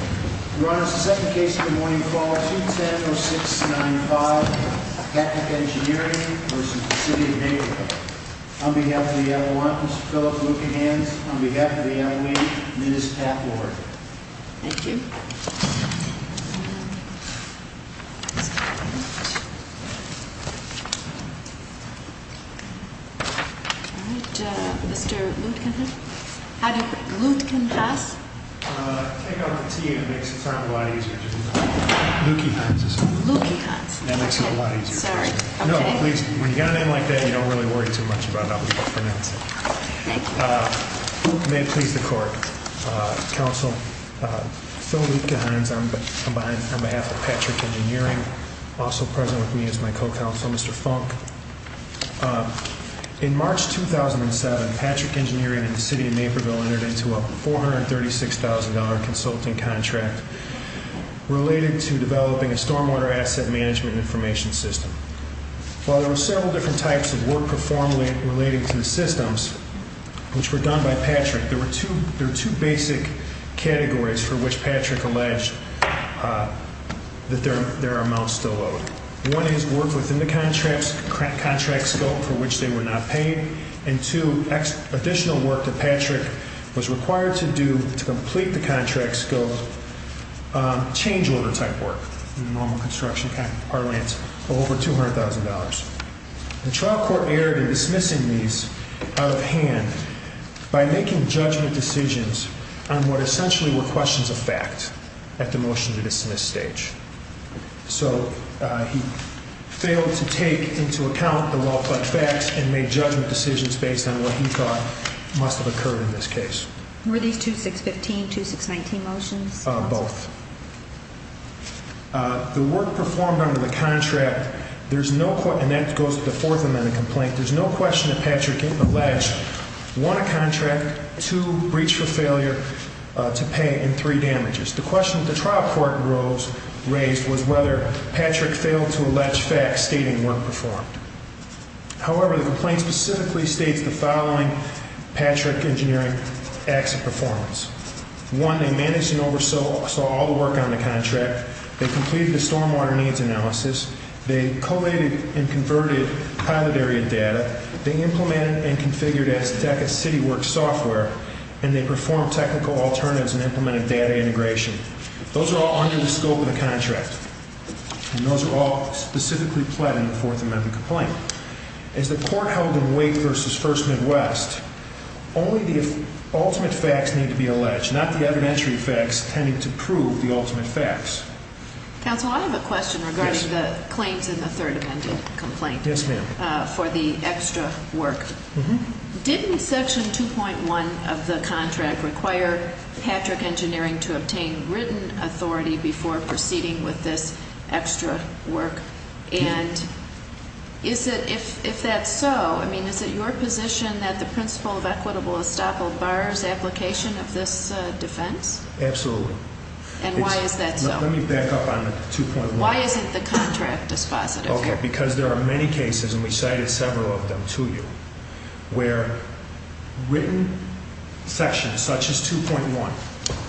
Your Honor, the second case of the morning, file 210-0695, Appendix Engineering, v. City of Naperville. On behalf of the Avalanche, Mr. Philip Lutkenhans. On behalf of the Avalanche, Ms. Pat Ward. Thank you. All right, Mr. Lutkenhans. How did Lutkenhans pass? Take off the T and it makes it a lot easier. Lutkenhans. Lutkenhans. That makes it a lot easier. Sorry. No, please. When you got it in like that, you don't really worry too much about how people pronounce it. Thank you. May it please the court. Counsel, Phil Lutkenhans on behalf of Patrick Engineering. Also present with me is my co-counsel, Mr. Funk. In March 2007, Patrick Engineering and the City of Naperville entered into a $436,000 consulting contract related to developing a stormwater asset management information system. While there were several different types of work performed relating to the systems, which were done by Patrick, there were two basic categories for which Patrick alleged that their amounts still owed. One is work within the contract scope for which they were not paid. And two, additional work that Patrick was required to do to complete the contract scope, change-order type work in the normal construction parlance of over $200,000. The trial court erred in dismissing these out of hand by making judgment decisions on what essentially were questions of fact at the motion to dismiss stage. So he failed to take into account the well-plugged facts and made judgment decisions based on what he thought must have occurred in this case. Were these 2-6-15, 2-6-19 motions? Both. The work performed under the contract, there's no question, and that goes to the Fourth Amendment complaint, there's no question that Patrick alleged one, a contract, two, breach for failure to pay, and three, damages. The question that the trial court raised was whether Patrick failed to allege facts stating work performed. However, the complaint specifically states the following Patrick engineering acts of performance. One, they managed and oversaw all the work on the contract. They completed the stormwater needs analysis. They collated and converted pilot area data. They implemented and configured as DECA City Works software, and they performed technical alternatives and implemented data integration. Those are all under the scope of the contract, and those are all specifically pled in the Fourth Amendment complaint. As the court held in Wake v. First Midwest, only the ultimate facts need to be alleged, not the evidentiary facts tending to prove the ultimate facts. Counsel, I have a question regarding the claims in the Third Amendment complaint for the extra work. Didn't section 2.1 of the contract require Patrick engineering to obtain written authority before proceeding with this extra work? And if that's so, I mean, is it your position that the principle of equitable estoppel bars application of this defense? Absolutely. And why is that so? Let me back up on 2.1. Why isn't the contract dispositive here? Okay, because there are many cases, and we cited several of them to you, where written sections such as 2.1,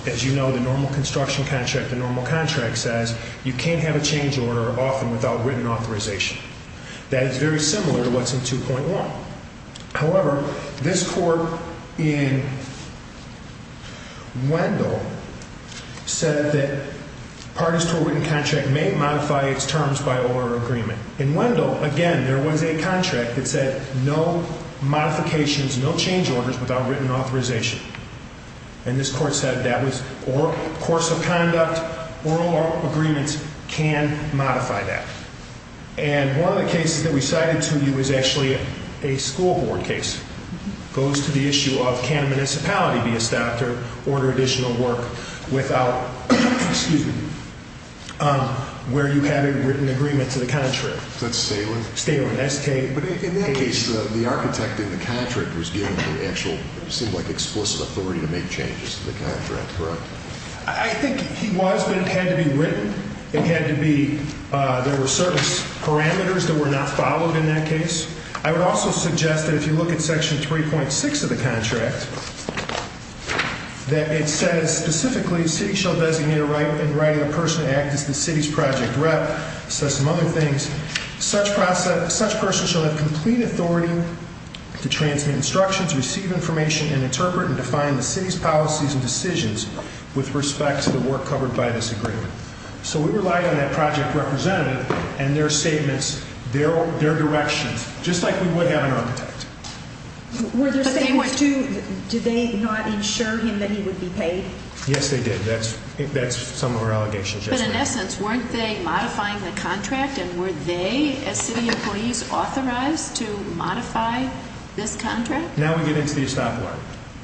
as you know, the normal construction contract, the normal contract says you can't have a change order often without written authorization. That is very similar to what's in 2.1. However, this court in Wendell said that parties to a written contract may modify its terms by oral agreement. In Wendell, again, there was a contract that said no modifications, no change orders without written authorization. And this court said that was course of conduct, oral agreements can modify that. And one of the cases that we cited to you is actually a school board case. It goes to the issue of can a municipality be estopped or order additional work without, excuse me, where you have a written agreement to the contract. Is that Stalen? Stalen. But in that case, the architect in the contract was given the actual, it seemed like explicit authority to make changes to the contract, correct? It had to be, there were certain parameters that were not followed in that case. I would also suggest that if you look at section 3.6 of the contract, that it says specifically city shall designate a right in writing a person to act as the city's project rep. It says some other things. Such person shall have complete authority to transmit instructions, receive information and interpret and define the city's policies and decisions with respect to the work covered by this agreement. So we relied on that project representative and their statements, their directions, just like we would have an architect. Were there statements to, did they not insure him that he would be paid? Yes, they did. That's some of our allegations. But in essence, weren't they modifying the contract and were they, as city employees, authorized to modify this contract? Now we get into the estop law.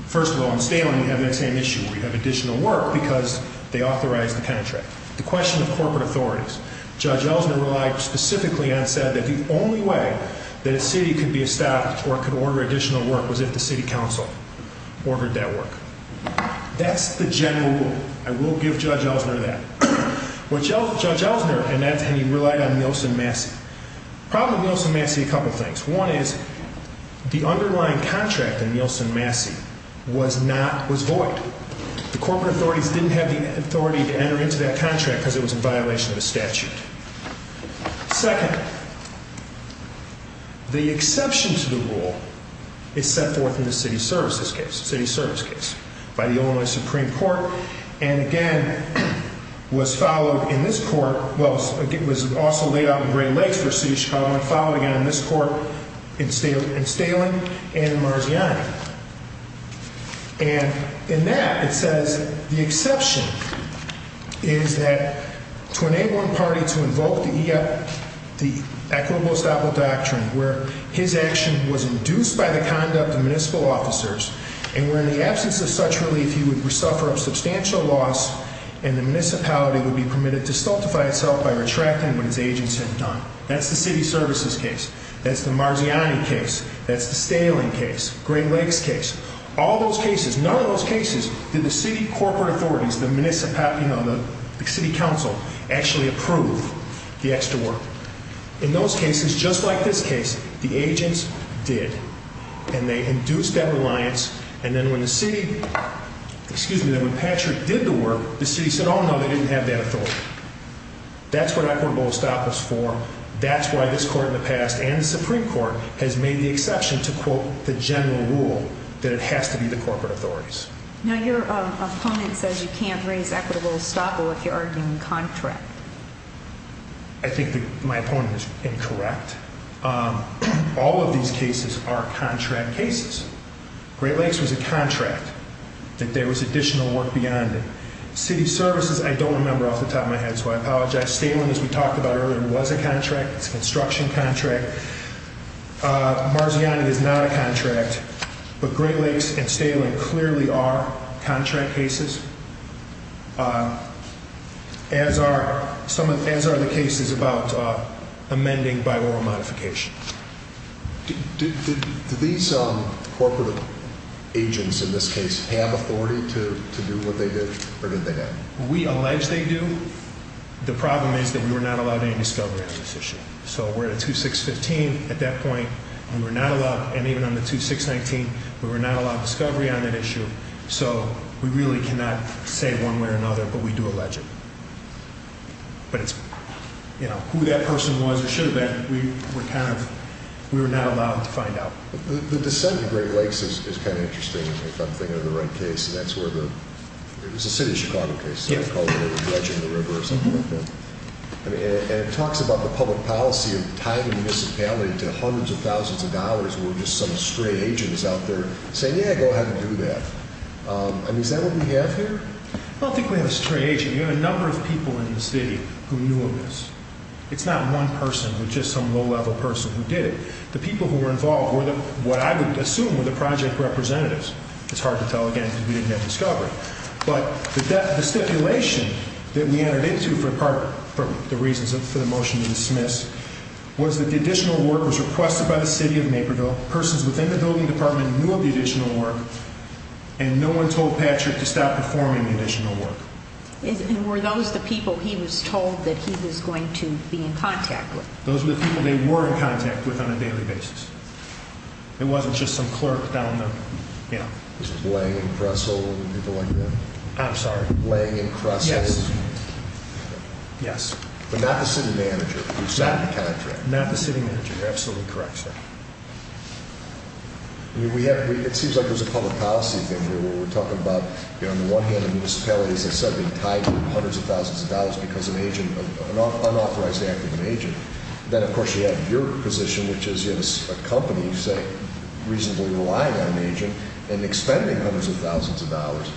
First of all, in Staling you have that same issue where you have additional work because they authorized the contract. The question of corporate authorities. Judge Ellsner relied specifically and said that the only way that a city could be estopped or could order additional work was if the city council ordered that work. That's the general rule. I will give Judge Ellsner that. Judge Ellsner relied on Nielsen-Massey. The problem with Nielsen-Massey, a couple things. One is the underlying contract in Nielsen-Massey was not, was void. The corporate authorities didn't have the authority to enter into that contract because it was in violation of the statute. Second, the exception to the rule is set forth in the city services case, city service case, by the Illinois Supreme Court. And again, was followed in this court, well, it was also laid out in Great Lakes for the city of Chicago and followed again in this court in Staling and Marziani. And in that it says the exception is that to enable a party to invoke the equitable estoppel doctrine where his action was induced by the conduct of municipal officers and where in the absence of such relief he would suffer a substantial loss and the municipality would be permitted to stultify itself by retracting what his agents had done. That's the city services case. That's the Marziani case. That's the Staling case. Great Lakes case. All those cases, none of those cases did the city corporate authorities, the municipal, you know, the city council actually approve the extra work. In those cases, just like this case, the agents did. And they induced that reliance. And then when the city, excuse me, when Patrick did the work, the city said, oh, no, they didn't have that authority. That's what equitable estoppel is for. That's why this court in the past and the Supreme Court has made the exception to, quote, the general rule that it has to be the corporate authorities. Now, your opponent says you can't raise equitable estoppel if you're arguing contract. I think my opponent is incorrect. All of these cases are contract cases. Great Lakes was a contract. There was additional work beyond it. City services, I don't remember off the top of my head, so I apologize. Staling, as we talked about earlier, was a contract. It's a construction contract. Marziani is not a contract. But Great Lakes and Staling clearly are contract cases. As are the cases about amending by oral modification. Did these corporate agents in this case have authority to do what they did, or did they not? We allege they do. The problem is that we were not allowed any discovery on this issue. So we're at a 2-6-15 at that point, and we're not allowed, and even on the 2-6-19, we were not allowed discovery on that issue. So we really cannot say one way or another, but we do allege it. But it's, you know, who that person was or should have been, we were not allowed to find out. The descent of Great Lakes is kind of interesting, if I'm thinking of the right case. And that's where the—it was a City of Chicago case. It was called the Dredging of the River or something like that. And it talks about the public policy of tying a municipality to hundreds of thousands of dollars where just some stray agent is out there saying, yeah, go ahead and do that. I mean, is that what we have here? I don't think we have a stray agent. We have a number of people in the city who knew of this. It's not one person. It was just some low-level person who did it. The people who were involved were what I would assume were the project representatives. It's hard to tell, again, because we didn't have discovery. But the stipulation that we entered into for the reasons for the motion to dismiss was that the additional work was requested by the City of Naperville. Persons within the building department knew of the additional work, and no one told Patrick to stop performing the additional work. And were those the people he was told that he was going to be in contact with? Those were the people they were in contact with on a daily basis. It wasn't just some clerk down the—you know. It was Blang and Kressel and people like that? I'm sorry? Blang and Kressel? Yes. Yes. But not the city manager who signed the contract? Not the city manager. You're absolutely correct, sir. It seems like there's a public policy thing here where we're talking about, on the one hand, the municipality, as I said, being tied to hundreds of thousands of dollars because of an unauthorized act of an agent. Then, of course, you have your position, which is a company, say, reasonably relying on an agent and expending hundreds of thousands of dollars.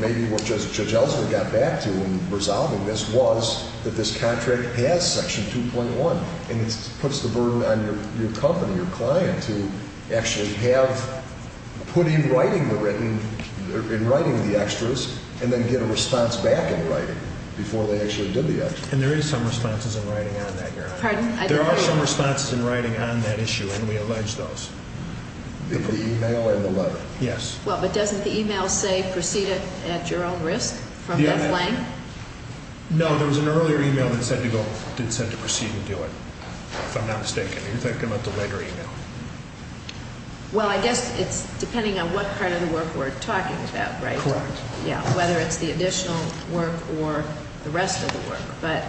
Maybe what Judge Ellsworth got back to in resolving this was that this contract has Section 2.1, and it puts the burden on your company, your client, to actually have—put in writing the written—in writing the extras and then get a response back in writing before they actually did the extras. And there is some responses in writing on that, Your Honor. Pardon? There are some responses in writing on that issue, and we allege those. The email and the letter. Yes. Well, but doesn't the email say proceed at your own risk from Beth Lane? No, there was an earlier email that said to proceed and do it, if I'm not mistaken. You're thinking about the letter email. Well, I guess it's depending on what part of the work we're talking about, right? Correct. Yeah, whether it's the additional work or the rest of the work. But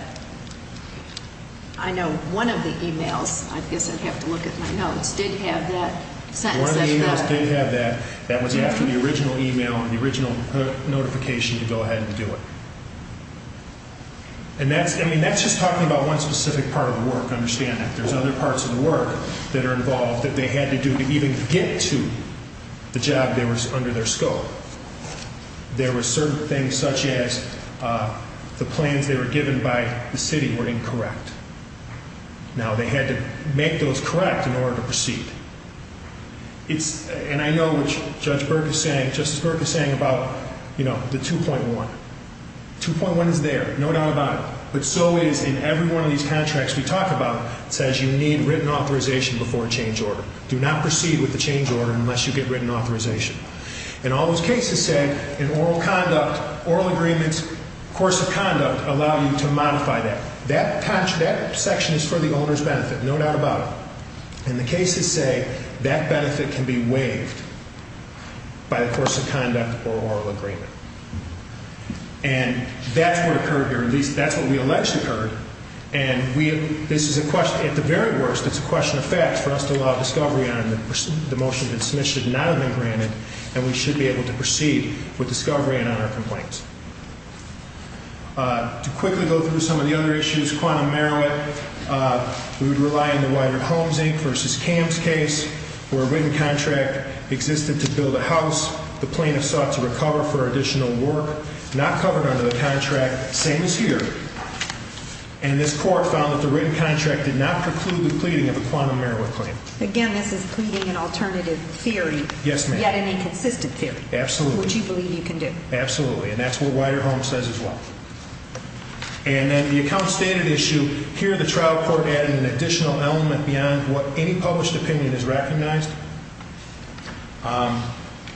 I know one of the emails—I guess I'd have to look at my notes—did have that sentence. One of the emails did have that. That was after the original email and the original notification to go ahead and do it. And that's—I mean, that's just talking about one specific part of the work. Understand that there's other parts of the work that are involved that they had to do to even get to the job that was under their scope. There were certain things such as the plans that were given by the city were incorrect. Now, they had to make those correct in order to proceed. And I know what Judge Burke is saying—Justice Burke is saying about, you know, the 2.1. 2.1 is there. No doubt about it. But so is in every one of these contracts we talk about. It says you need written authorization before a change order. Do not proceed with the change order unless you get written authorization. And all those cases said in oral conduct, oral agreements, course of conduct allow you to modify that. That section is for the owner's benefit. No doubt about it. And the cases say that benefit can be waived by the course of conduct or oral agreement. And that's what occurred here. At least, that's what we alleged occurred. And this is a question—at the very worst, it's a question of facts for us to allow discovery on and the motion to dismiss should not have been granted, and we should be able to proceed with discovery and honor complaints. To quickly go through some of the other issues, quantum merowit, we would rely on the Weider Holmes Inc. v. Kams case where a written contract existed to build a house. The plaintiff sought to recover for additional work. Not covered under the contract. Same as here. And this court found that the written contract did not preclude the pleading of a quantum merowit claim. Again, this is pleading an alternative theory. Yes, ma'am. Yet an inconsistent theory. Absolutely. Which you believe you can do. Absolutely. And that's what Weider Holmes says as well. And then the account standard issue. Here, the trial court added an additional element beyond what any published opinion has recognized.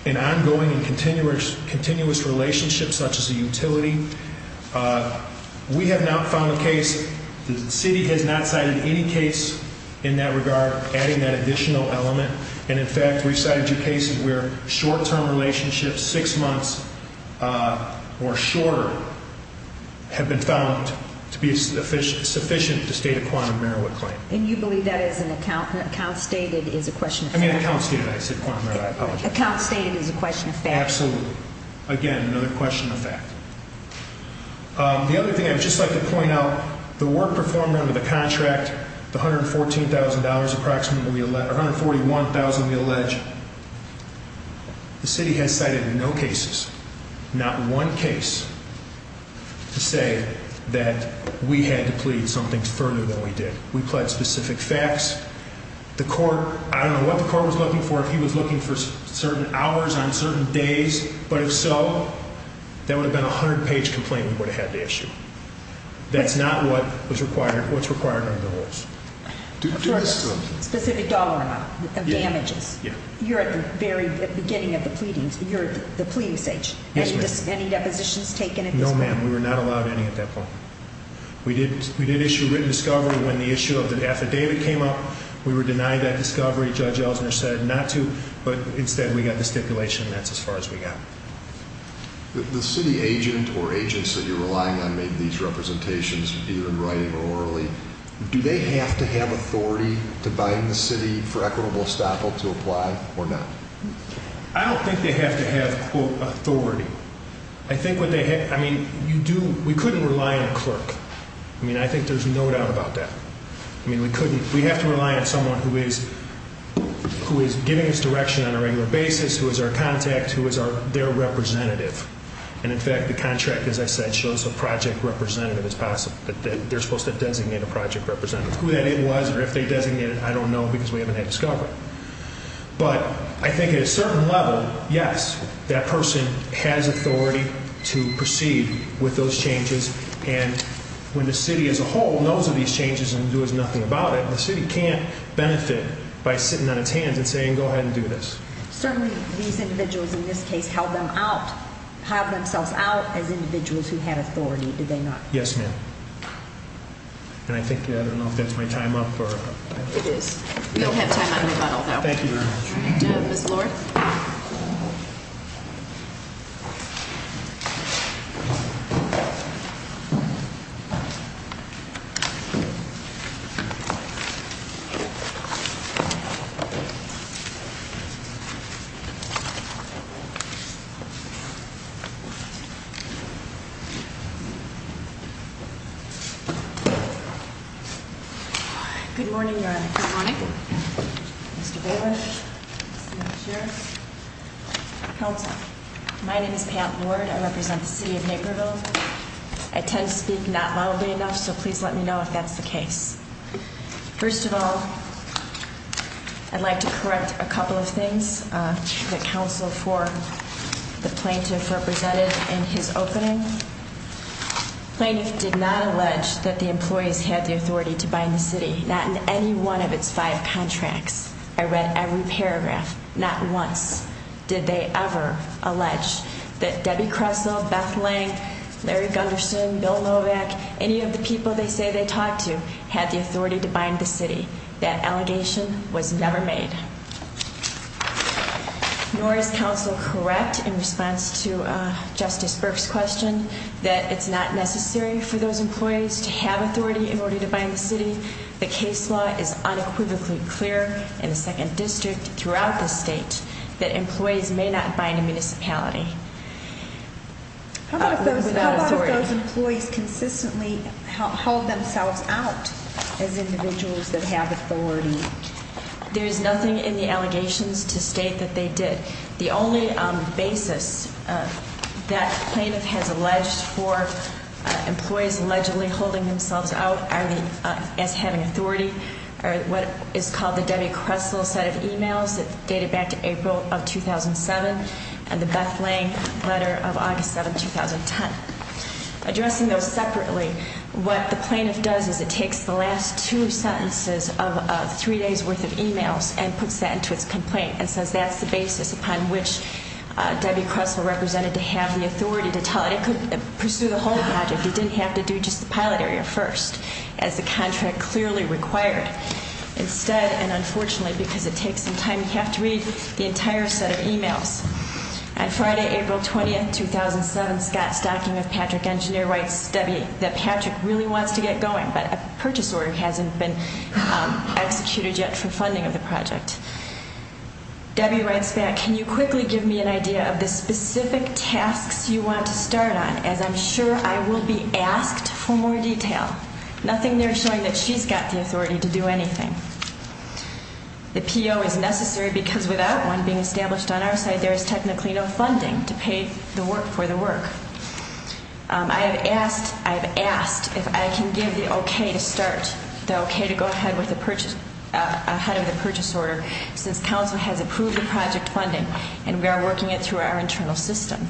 An ongoing and continuous relationship such as a utility. We have not found a case—the city has not cited any case in that regard adding that additional element. And, in fact, we've cited two cases where short-term relationships, six months or shorter, have been found to be sufficient to state a quantum merowit claim. And you believe that is an account—an account stated is a question of fact. I mean an account stated. I said quantum merowit. I apologize. An account stated is a question of fact. Absolutely. Again, another question of fact. The other thing I would just like to point out, the work performed under the contract, the $114,000 approximately—or $141,000 we allege, the city has cited no cases, not one case, to say that we had to plead something further than we did. We pled specific facts. The court—I don't know what the court was looking for. If he was looking for certain hours on certain days, but if so, that would have been a hundred-page complaint we would have had to issue. That's not what's required under the rules. Do this to him. Specific dollar amount of damages. Yeah. You're at the very beginning of the pleadings. You're at the pleading stage. Yes, ma'am. Any depositions taken at this point? No, ma'am. We were not allowed any at that point. We did issue written discovery when the issue of the affidavit came up. We were denied that discovery. Judge Ellsner said not to, but instead we got the stipulation, and that's as far as we got. The city agent or agents that you're relying on made these representations, either in writing or orally. Do they have to have authority to bind the city for equitable estoppel to apply or not? I don't think they have to have, quote, authority. I think what they—I mean, you do—we couldn't rely on a clerk. I mean, I think there's no doubt about that. I mean, we couldn't—we have to rely on someone who is giving us direction on a regular basis, who is our contact, who is their representative. And, in fact, the contract, as I said, shows a project representative as possible, that they're supposed to designate a project representative. Who that is was or if they designated it, I don't know because we haven't had discovery. But I think at a certain level, yes, that person has authority to proceed with those changes. And when the city as a whole knows of these changes and does nothing about it, the city can't benefit by sitting on its hands and saying, go ahead and do this. Certainly, these individuals in this case held them out, held themselves out as individuals who had authority, did they not? Yes, ma'am. And I think—I don't know if that's my time up or— It is. We don't have time on the call now. Thank you very much. Ms. Lord? Good morning, Your Honor. Good morning. Mr. Bailiff? Mr. Sheriff? Counsel? My name is Pam Lord. I represent the city of Naperville. I tend to speak not loudly enough, so please let me know if that's the case. First of all, I'd like to correct a couple of things that counsel for the plaintiff represented in his opening. The plaintiff did not allege that the employees had the authority to bind the city, not in any one of its five contracts. I read every paragraph, not once did they ever allege that Debbie Kressel, Beth Lang, Larry Gunderson, Bill Novak, any of the people they say they talked to, had the authority to bind the city. That allegation was never made. Nor is counsel correct in response to Justice Burke's question that it's not necessary for those employees to have authority in order to bind the city. The case law is unequivocally clear in the Second District throughout the state that employees may not bind a municipality. How about if those employees consistently hold themselves out as individuals that have authority? There is nothing in the allegations to state that they did. The only basis that plaintiff has alleged for employees allegedly holding themselves out as having authority are what is called the Debbie Kressel set of emails that dated back to April of 2007 and the Beth Lang letter of August 7, 2010. Addressing those separately, what the plaintiff does is it takes the last two sentences of three days' worth of emails and puts that into its complaint and says that's the basis upon which Debbie Kressel represented to have the authority to tell it. It could pursue the whole project. It didn't have to do just the pilot area first, as the contract clearly required. Instead, and unfortunately because it takes some time, you have to read the entire set of emails. On Friday, April 20, 2007, Scott Stocking of Patrick Engineer writes Debbie that Patrick really wants to get going, but a purchase order hasn't been executed yet for funding of the project. Debbie writes back, can you quickly give me an idea of the specific tasks you want to start on, as I'm sure I will be asked for more detail. Nothing there showing that she's got the authority to do anything. The PO is necessary because without one being established on our side, there is technically no funding to pay for the work. I have asked if I can give the okay to start, the okay to go ahead with the purchase, ahead of the purchase order, since council has approved the project funding and we are working it through our internal system.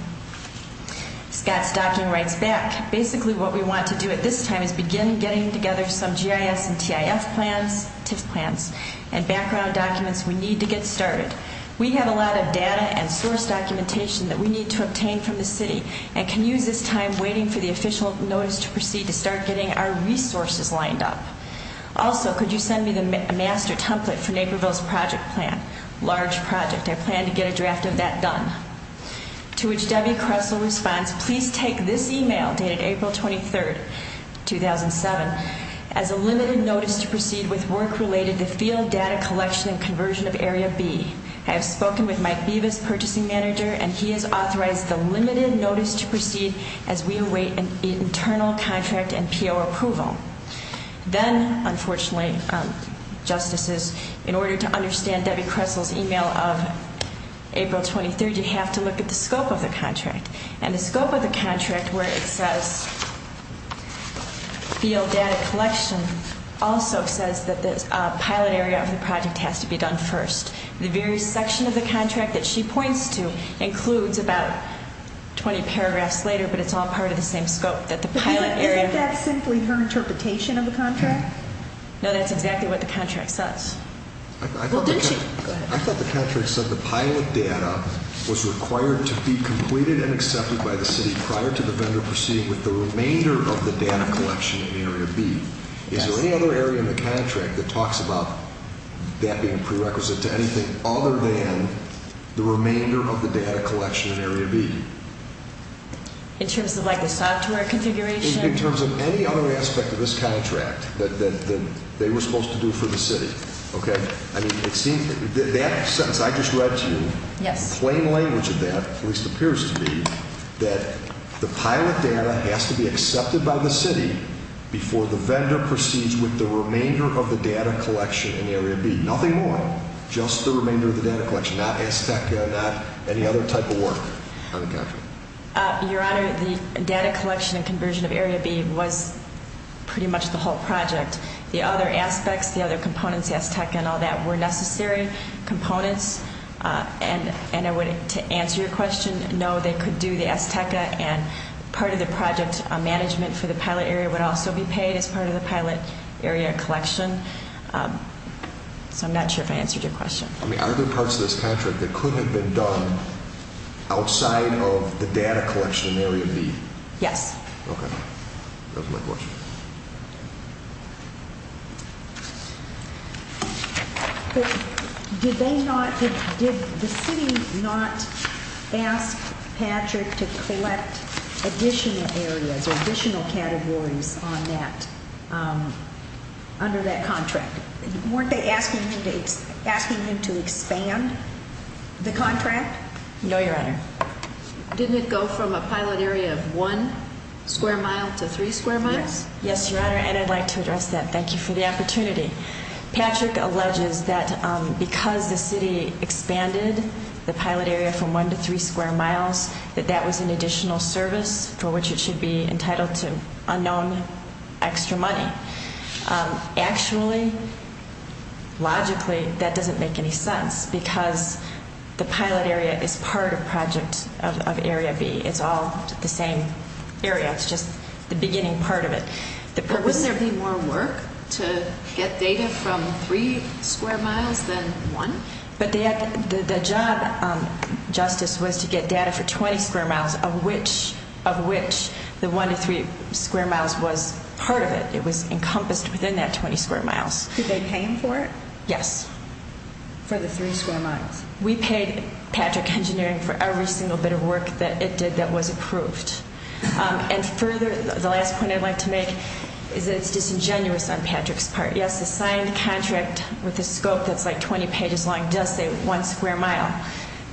Scott Stocking writes back, basically what we want to do at this time is begin getting together some GIS and TIF plans and background documents we need to get started. We have a lot of data and source documentation that we need to obtain from the city and can use this time waiting for the official notice to proceed to start getting our resources lined up. Also, could you send me the master template for Naperville's project plan, large project. I plan to get a draft of that done. To which Debbie Cressel responds, please take this email dated April 23rd, 2007, as a limited notice to proceed with work related to field data collection and conversion of Area B. I have spoken with Mike Bevis, purchasing manager, and he has authorized the limited notice to proceed as we await an internal contract and PO approval. Then, unfortunately, justices, in order to understand Debbie Cressel's email of April 23rd, you have to look at the scope of the contract. And the scope of the contract where it says field data collection also says that the pilot area of the project has to be done first. The very section of the contract that she points to includes about 20 paragraphs later, but it's all part of the same scope. Isn't that simply her interpretation of the contract? No, that's exactly what the contract says. I thought the contract said the pilot data was required to be completed and accepted by the city prior to the vendor proceeding with the remainder of the data collection in Area B. Is there any other area in the contract that talks about that being prerequisite to anything other than the remainder of the data collection in Area B? In terms of the statutory configuration? In terms of any other aspect of this contract that they were supposed to do for the city. Okay? That sentence I just read to you, plain language of that at least appears to be that the pilot data has to be accepted by the city before the vendor proceeds with the remainder of the data collection in Area B. Nothing more. Just the remainder of the data collection. Not Azteca, not any other type of work on the contract. Your Honor, the data collection and conversion of Area B was pretty much the whole project. The other aspects, the other components, Azteca and all that, were necessary components. And to answer your question, no, they could do the Azteca, and part of the project management for the pilot area would also be paid as part of the pilot area collection. So I'm not sure if I answered your question. I mean, are there parts of this contract that could have been done outside of the data collection in Area B? Yes. Okay. That was my question. Did they not, did the city not ask Patrick to collect additional areas or additional categories on that, under that contract? Weren't they asking him to expand the contract? No, Your Honor. Didn't it go from a pilot area of one square mile to three square miles? Yes, Your Honor, and I'd like to address that. Thank you for the opportunity. Patrick alleges that because the city expanded the pilot area from one to three square miles, that that was an additional service for which it should be entitled to unknown extra money. Actually, logically, that doesn't make any sense because the pilot area is part of Project of Area B. It's all the same area. It's just the beginning part of it. But wouldn't there be more work to get data from three square miles than one? But the job, Justice, was to get data for 20 square miles, of which the one to three square miles was part of it. It was encompassed within that 20 square miles. Did they pay him for it? Yes. For the three square miles? We paid Patrick Engineering for every single bit of work that it did that was approved. And further, the last point I'd like to make is that it's disingenuous on Patrick's part. Yes, the signed contract with a scope that's like 20 pages long does say one square mile,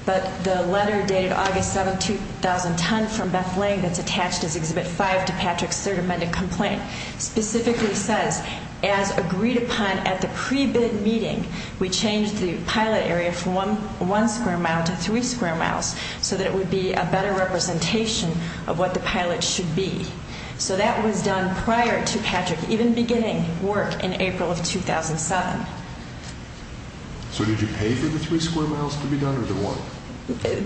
but the letter dated August 7, 2010 from Beth Lang that's attached as Exhibit 5 to Patrick's third amended complaint specifically says, as agreed upon at the pre-bid meeting, we changed the pilot area from one square mile to three square miles so that it would be a better representation of what the pilot should be. So that was done prior to Patrick even beginning work in April of 2007. So did you pay for the three square miles to be done or the one?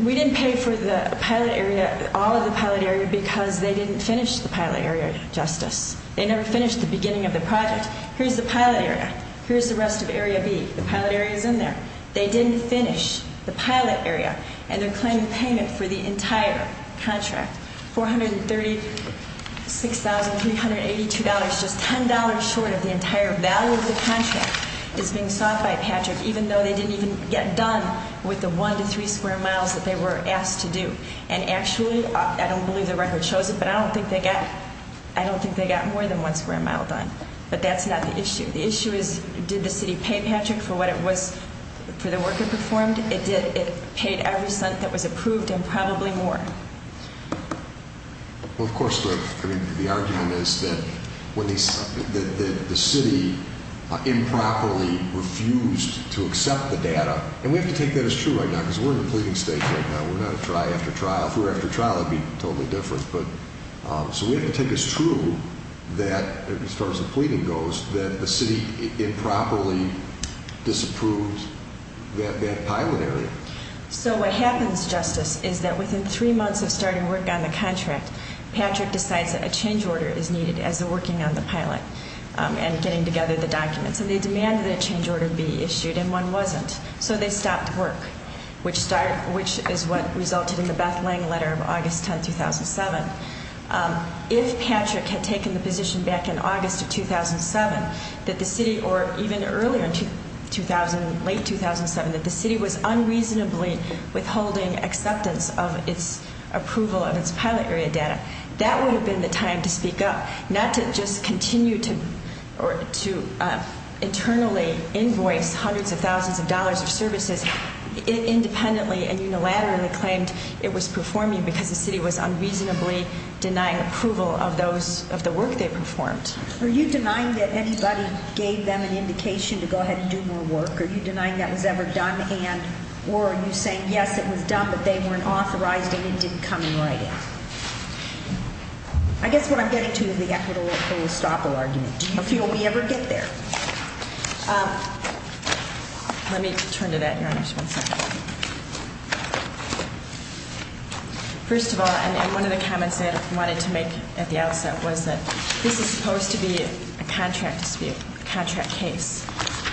We didn't pay for the pilot area, all of the pilot area, because they didn't finish the pilot area, Justice. They never finished the beginning of the project. Here's the pilot area. Here's the rest of Area B. The pilot area is in there. They didn't finish the pilot area, and they're claiming payment for the entire contract. $436,382, just $10 short of the entire value of the contract, is being sought by Patrick even though they didn't even get done with the one to three square miles that they were asked to do. And actually, I don't believe the record shows it, but I don't think they got more than one square mile done. But that's not the issue. The issue is did the city pay Patrick for what it was for the work it performed? It did. It paid every cent that was approved and probably more. Well, of course, the argument is that the city improperly refused to accept the data, and we have to take that as true right now because we're in a pleading state right now. We're not after trial. If we were after trial, it would be totally different. So we have to take it as true that, as far as the pleading goes, that the city improperly disapproved that pilot area. So what happens, Justice, is that within three months of starting work on the contract, Patrick decides that a change order is needed as they're working on the pilot and getting together the documents. And they demanded that a change order be issued, and one wasn't. So they stopped work, which is what resulted in the Beth Lang letter of August 10, 2007. If Patrick had taken the position back in August of 2007 that the city, or even earlier in late 2007, that the city was unreasonably withholding acceptance of its approval of its pilot area data, that would have been the time to speak up, not to just continue to internally invoice hundreds of thousands of dollars of services independently and unilaterally claimed it was performing because the city was unreasonably denying approval of the work they performed. Are you denying that anybody gave them an indication to go ahead and do more work? Are you denying that was ever done? And, or are you saying, yes, it was done, but they weren't authorized and it didn't come in writing? I guess what I'm getting to is the equitable or full-stop argument. Do you feel we ever get there? Let me turn to that, Your Honor, just one second. First of all, and one of the comments I wanted to make at the outset was that this is supposed to be a contract dispute, a contract case,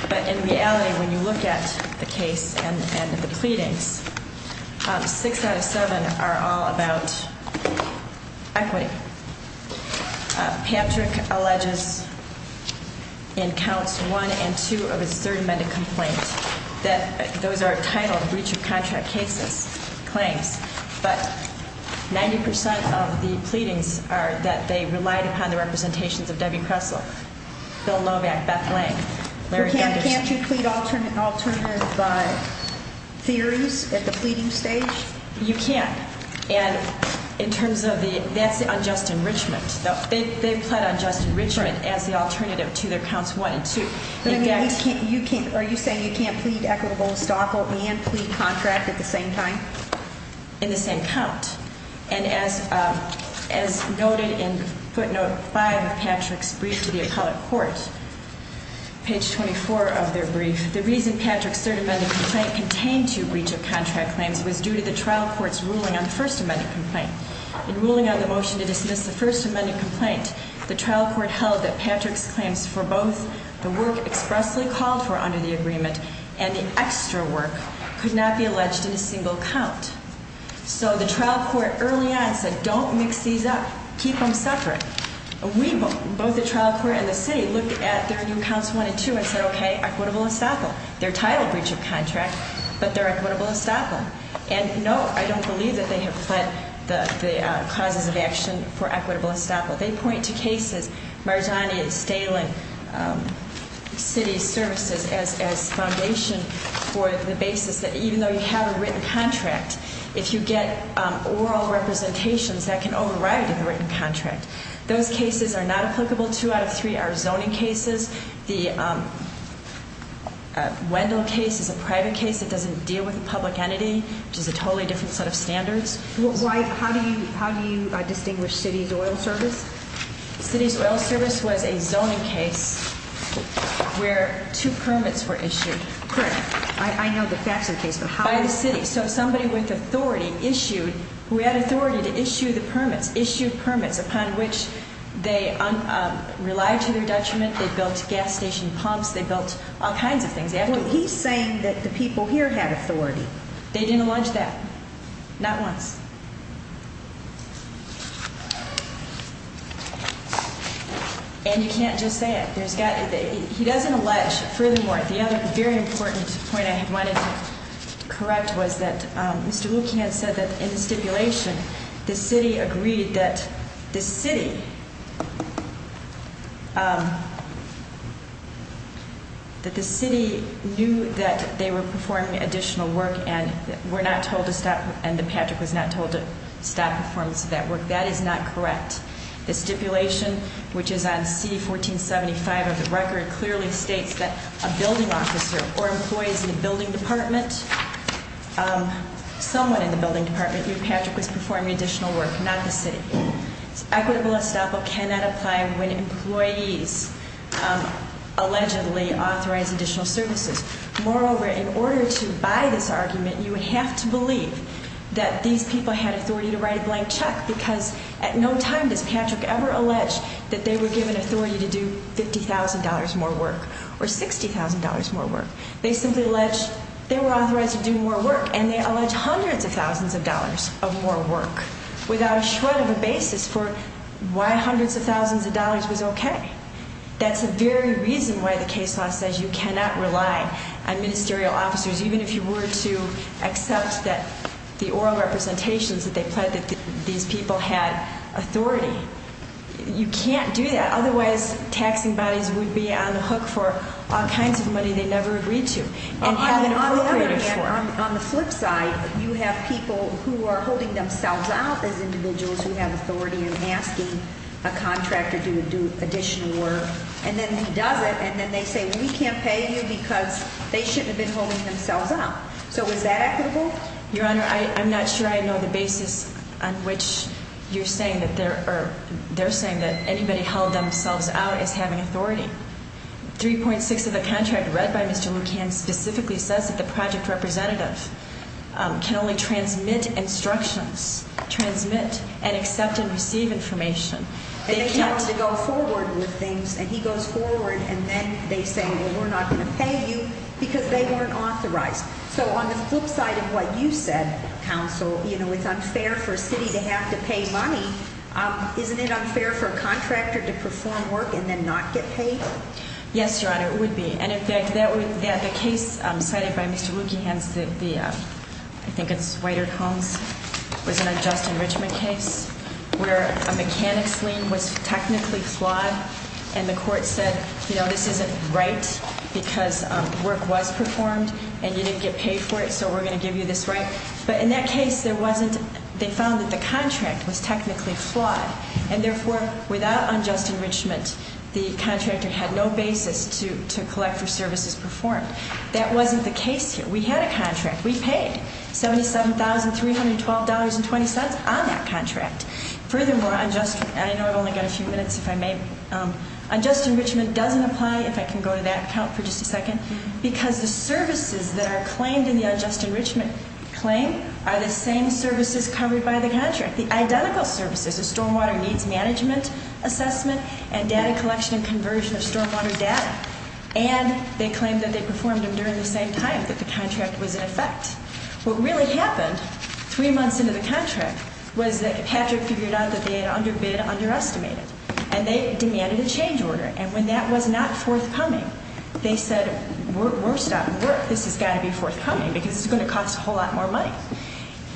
but in reality when you look at the case and the pleadings, six out of seven are all about equity. Patrick alleges in counts one and two of his third amended complaint that those are titled breach of contract cases, claims, but 90% of the pleadings are that they relied upon the representations of Debbie Kressel, Bill Novak, Beth Lang, Larry Gunderson. Can't you plead alternative theories at the pleading stage? You can't. And in terms of the, that's the unjust enrichment. They pled unjust enrichment as the alternative to their counts one and two. Are you saying you can't plead equitable and stockle and plead contract at the same time? In the same count. And as noted in footnote five of Patrick's brief to the appellate court, page 24 of their brief, the reason Patrick's third amended complaint contained two breach of contract claims was due to the trial court's ruling on the first amended complaint. In ruling on the motion to dismiss the first amended complaint, the trial court held that Patrick's claims for both the work expressly called for under the agreement and the extra work could not be alleged in a single count. So the trial court early on said don't mix these up. Keep them separate. We, both the trial court and the city, looked at their new counts one and two and said, okay, equitable and stockle. They're titled breach of contract, but they're equitable and stockle. And no, I don't believe that they have fled the causes of action for equitable and stockle. They point to cases, Marjani and Stalen City Services as foundation for the basis that even though you have a written contract, if you get oral representations, that can override a written contract. Those cases are not applicable. Two out of three are zoning cases. The Wendell case is a private case that doesn't deal with a public entity, which is a totally different set of standards. How do you distinguish city's oil service? City's oil service was a zoning case where two permits were issued. Correct. I know the Faxon case, but how? By the city. So somebody with authority issued, who had authority to issue the permits, issued permits upon which they relied to their detriment. They built gas station pumps. They built all kinds of things. He's saying that the people here had authority. They didn't allege that. Not once. And you can't just say it. He doesn't allege. Furthermore, the other very important point I wanted to correct was that Mr. Lucan said that in the stipulation, the city agreed that the city knew that they were performing additional work and were not told to stop, and that Patrick was not told to stop performance of that work. That is not correct. The stipulation, which is on C1475 of the record, clearly states that a building officer or employees in a building department, someone in the building department knew Patrick was performing additional work, not the city. Equitable estoppel cannot apply when employees allegedly authorize additional services. Moreover, in order to buy this argument, you would have to believe that these people had authority to write a blank check because at no time does Patrick ever allege that they were given authority to do $50,000 more work or $60,000 more work. They simply allege they were authorized to do more work, and they allege hundreds of thousands of dollars of more work without a shred of a basis for why hundreds of thousands of dollars was okay. That's the very reason why the case law says you cannot rely on ministerial officers, even if you were to accept that the oral representations that they pledged that these people had authority. You can't do that. Otherwise, taxing bodies would be on the hook for all kinds of money they never agreed to. On the flip side, you have people who are holding themselves out as individuals who have authority and asking a contractor to do additional work. And then he does it, and then they say, well, we can't pay you because they shouldn't have been holding themselves out. So is that equitable? Your Honor, I'm not sure I know the basis on which you're saying that they're saying that anybody held themselves out as having authority. 3.6 of the contract read by Mr. Lucan specifically says that the project representative can only transmit instructions, transmit and accept and receive information. And they tell him to go forward with things, and he goes forward, and then they say, well, we're not going to pay you because they weren't authorized. So on the flip side of what you said, counsel, you know, it's unfair for a city to have to pay money. Isn't it unfair for a contractor to perform work and then not get paid? Yes, Your Honor, it would be. And in fact, the case cited by Mr. Lucan, I think it's Whiter Combs, was an unjust enrichment case where a mechanic's lien was technically flawed, and the court said, you know, this isn't right because work was performed and you didn't get paid for it, so we're going to give you this right. But in that case, there wasn't they found that the contract was technically flawed, and therefore, without unjust enrichment, the contractor had no basis to collect for services performed. That wasn't the case here. We had a contract. We paid $77,312.20 on that contract. Furthermore, I know I've only got a few minutes, if I may. Unjust enrichment doesn't apply, if I can go to that account for just a second, because the services that are claimed in the unjust enrichment claim are the same services covered by the contract, the identical services, the stormwater needs management assessment and data collection and conversion of stormwater data. And they claimed that they performed them during the same time, that the contract was in effect. What really happened three months into the contract was that Patrick figured out that they had underbid, underestimated, and they demanded a change order, and when that was not forthcoming, they said, we're stopping work. This has got to be forthcoming because it's going to cost a whole lot more money.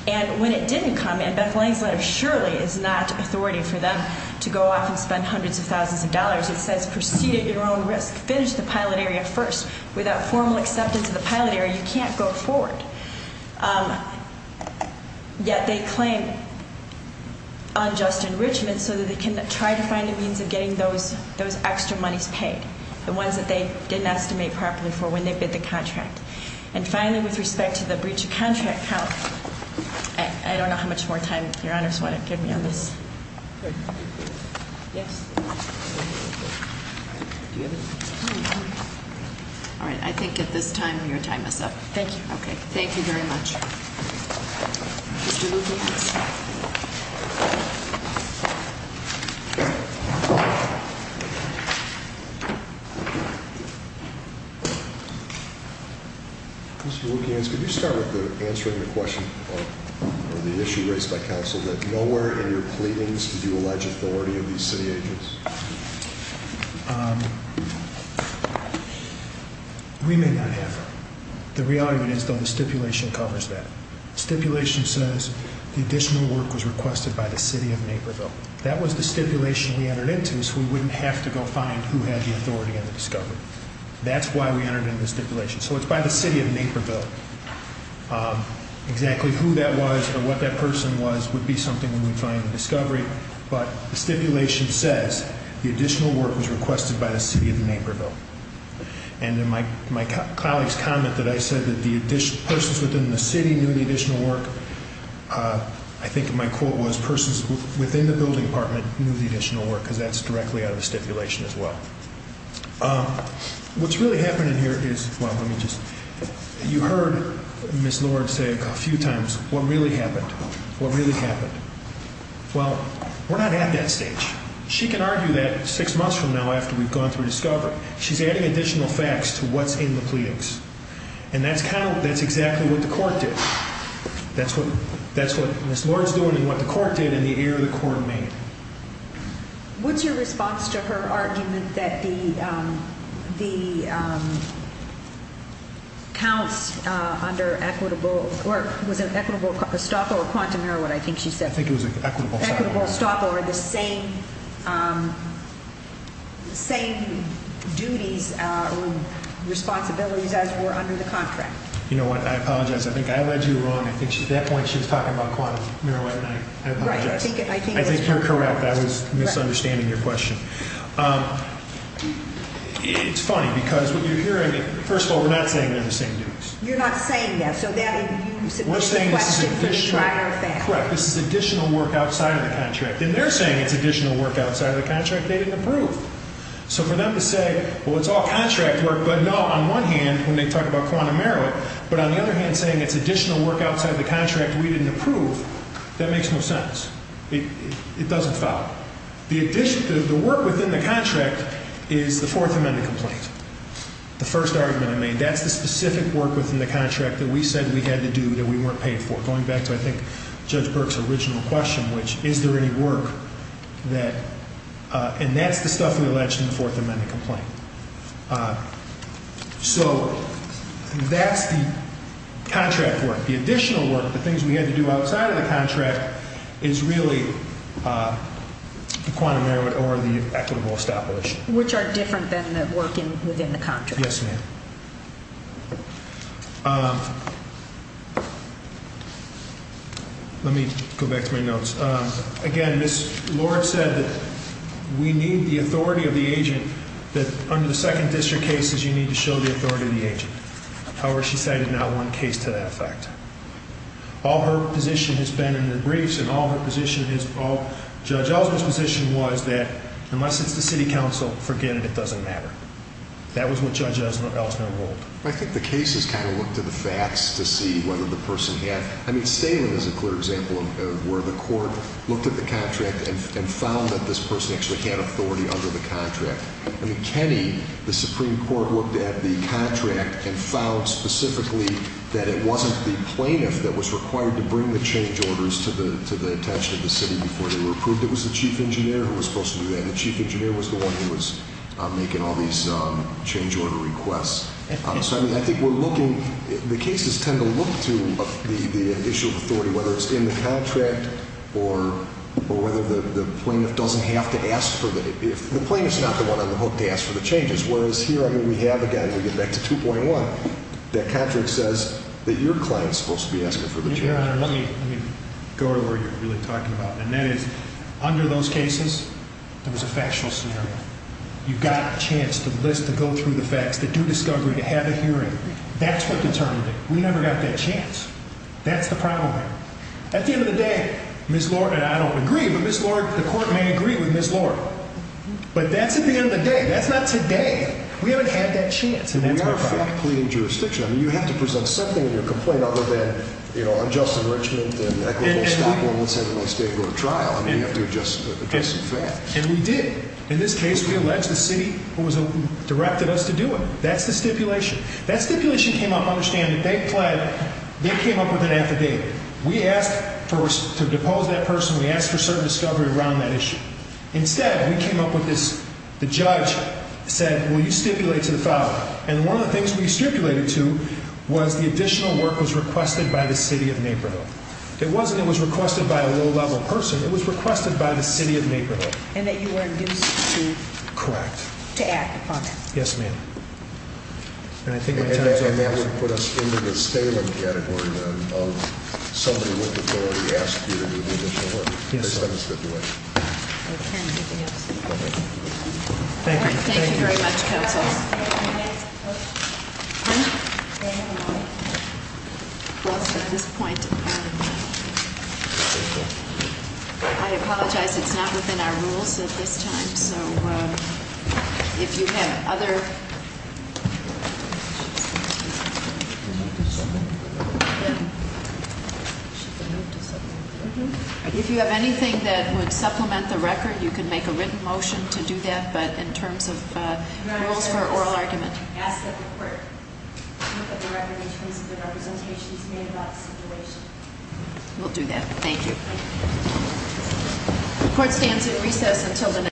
And when it didn't come, and Beth Lane's letter surely is not authority for them to go off and spend hundreds of thousands of dollars. It says proceed at your own risk. Finish the pilot area first. Without formal acceptance of the pilot area, you can't go forward. Yet they claim unjust enrichment so that they can try to find a means of getting those extra monies paid, the ones that they didn't estimate properly for when they bid the contract. And finally, with respect to the breach of contract count, I don't know how much more time your honors want to give me on this. Yes. All right. I think at this time your time is up. Thank you. Okay. Thank you very much. Thank you. Mr. Williams, could you start with answering the question or the issue raised by counsel that nowhere in your pleadings did you allege authority of these city agents? We may not have. The reality is, though, the stipulation covers that. The stipulation says the additional work was requested by the city of Naperville. That was the stipulation we entered into so we wouldn't have to go find who had the authority on the discovery. That's why we entered into the stipulation. So it's by the city of Naperville. Exactly who that was or what that person was would be something when we find the discovery. But the stipulation says the additional work was requested by the city of Naperville. And in my colleague's comment that I said that the persons within the city knew the additional work, I think my quote was persons within the building department knew the additional work because that's directly out of the stipulation as well. What's really happening here is, well, let me just, you heard Ms. Lord say a few times what really happened, what really happened. Well, we're not at that stage. She can argue that six months from now after we've gone through discovery. She's adding additional facts to what's in the pleadings. And that's kind of, that's exactly what the court did. That's what Ms. Lord's doing and what the court did and the error the court made. What's your response to her argument that the counts under equitable, or was it equitable estoppel or quantum error what I think she said? I think it was equitable estoppel. Equitable estoppel or the same duties or responsibilities as were under the contract. You know what, I apologize. I think I led you wrong. I think at that point she was talking about quantum error. I think you're correct. I was misunderstanding your question. It's funny because what you're hearing, first of all, we're not saying they're the same duties. You're not saying that. So that is you submitting the question for the prior fact. Correct. This is additional work outside of the contract. And they're saying it's additional work outside of the contract they didn't approve. So for them to say, well, it's all contract work, but no, on one hand, when they talk about quantum error, but on the other hand, saying it's additional work outside of the contract we didn't approve, that makes no sense. It doesn't follow. The work within the contract is the Fourth Amendment complaint. The first argument I made. That's the specific work within the contract that we said we had to do that we weren't paid for. Going back to, I think, Judge Burke's original question, which is there any work that, and that's the stuff we alleged in the Fourth Amendment complaint. So that's the contract work. The additional work, the things we had to do outside of the contract, is really the quantum error or the equitable establishment. Which are different than the work within the contract. Yes, ma'am. Let me go back to my notes. Again, Ms. Lord said that we need the authority of the agent, that under the second district cases you need to show the authority of the agent. However, she cited not one case to that effect. All her position has been in the briefs and all her position, Judge Ellsworth's position was that unless it's the city council, forget it, it doesn't matter. That was what Judge Ellsworth ruled. I think the cases kind of look to the facts to see whether the person had. I mean, Stalin is a clear example of where the court looked at the contract and found that this person actually had authority under the contract. I mean, Kenny, the Supreme Court looked at the contract and found specifically that it wasn't the plaintiff that was required to bring the change orders to the attention of the city before they were approved. It was the chief engineer who was supposed to do that. And the chief engineer was the one who was making all these change order requests. So, I mean, I think we're looking. The cases tend to look to the issue of authority, whether it's in the contract or whether the plaintiff doesn't have to ask for the. The plaintiff's not the one on the hook to ask for the changes. Whereas here, I mean, we have, again, we get back to 2.1, that contract says that your client's supposed to be asking for the changes. Your Honor, let me go to where you're really talking about. And that is, under those cases, there was a factual scenario. You got a chance to list, to go through the facts, to do discovery, to have a hearing. That's what determined it. We never got that chance. That's the problem here. At the end of the day, Ms. Lord, and I don't agree, but Ms. Lord, the court may agree with Ms. Lord. But that's at the end of the day. That's not today. We haven't had that chance. And that's my problem. I mean, you have to present something in your complaint other than, you know, unjust enrichment and equitable stop, and let's have the state go to trial. I mean, you have to address some facts. And we did. In this case, we alleged the city who directed us to do it. That's the stipulation. That stipulation came up, understand, they came up with an affidavit. We asked to depose that person. We asked for certain discovery around that issue. Instead, we came up with this. The judge said, well, you stipulate to the file. And one of the things we stipulated to was the additional work was requested by the city of Naperville. It wasn't it was requested by a low-level person. It was requested by the city of Naperville. And that you were induced to? Correct. To act upon it. Yes, ma'am. And I think my time is up. And that would put us into the staling category of somebody with authority asked you to do the additional work. Yes, sir. That's the stipulation. Okay. Anything else? No, ma'am. Thank you. Thank you very much, counsel. Any last questions? Huh? Well, at this point, I apologize. It's not within our rules at this time. So, if you have other, if you have anything that would supplement the record, you can make a written motion to do that. But in terms of rules for oral argument. We'll do that. Thank you. The court stands in recess until the next hearing.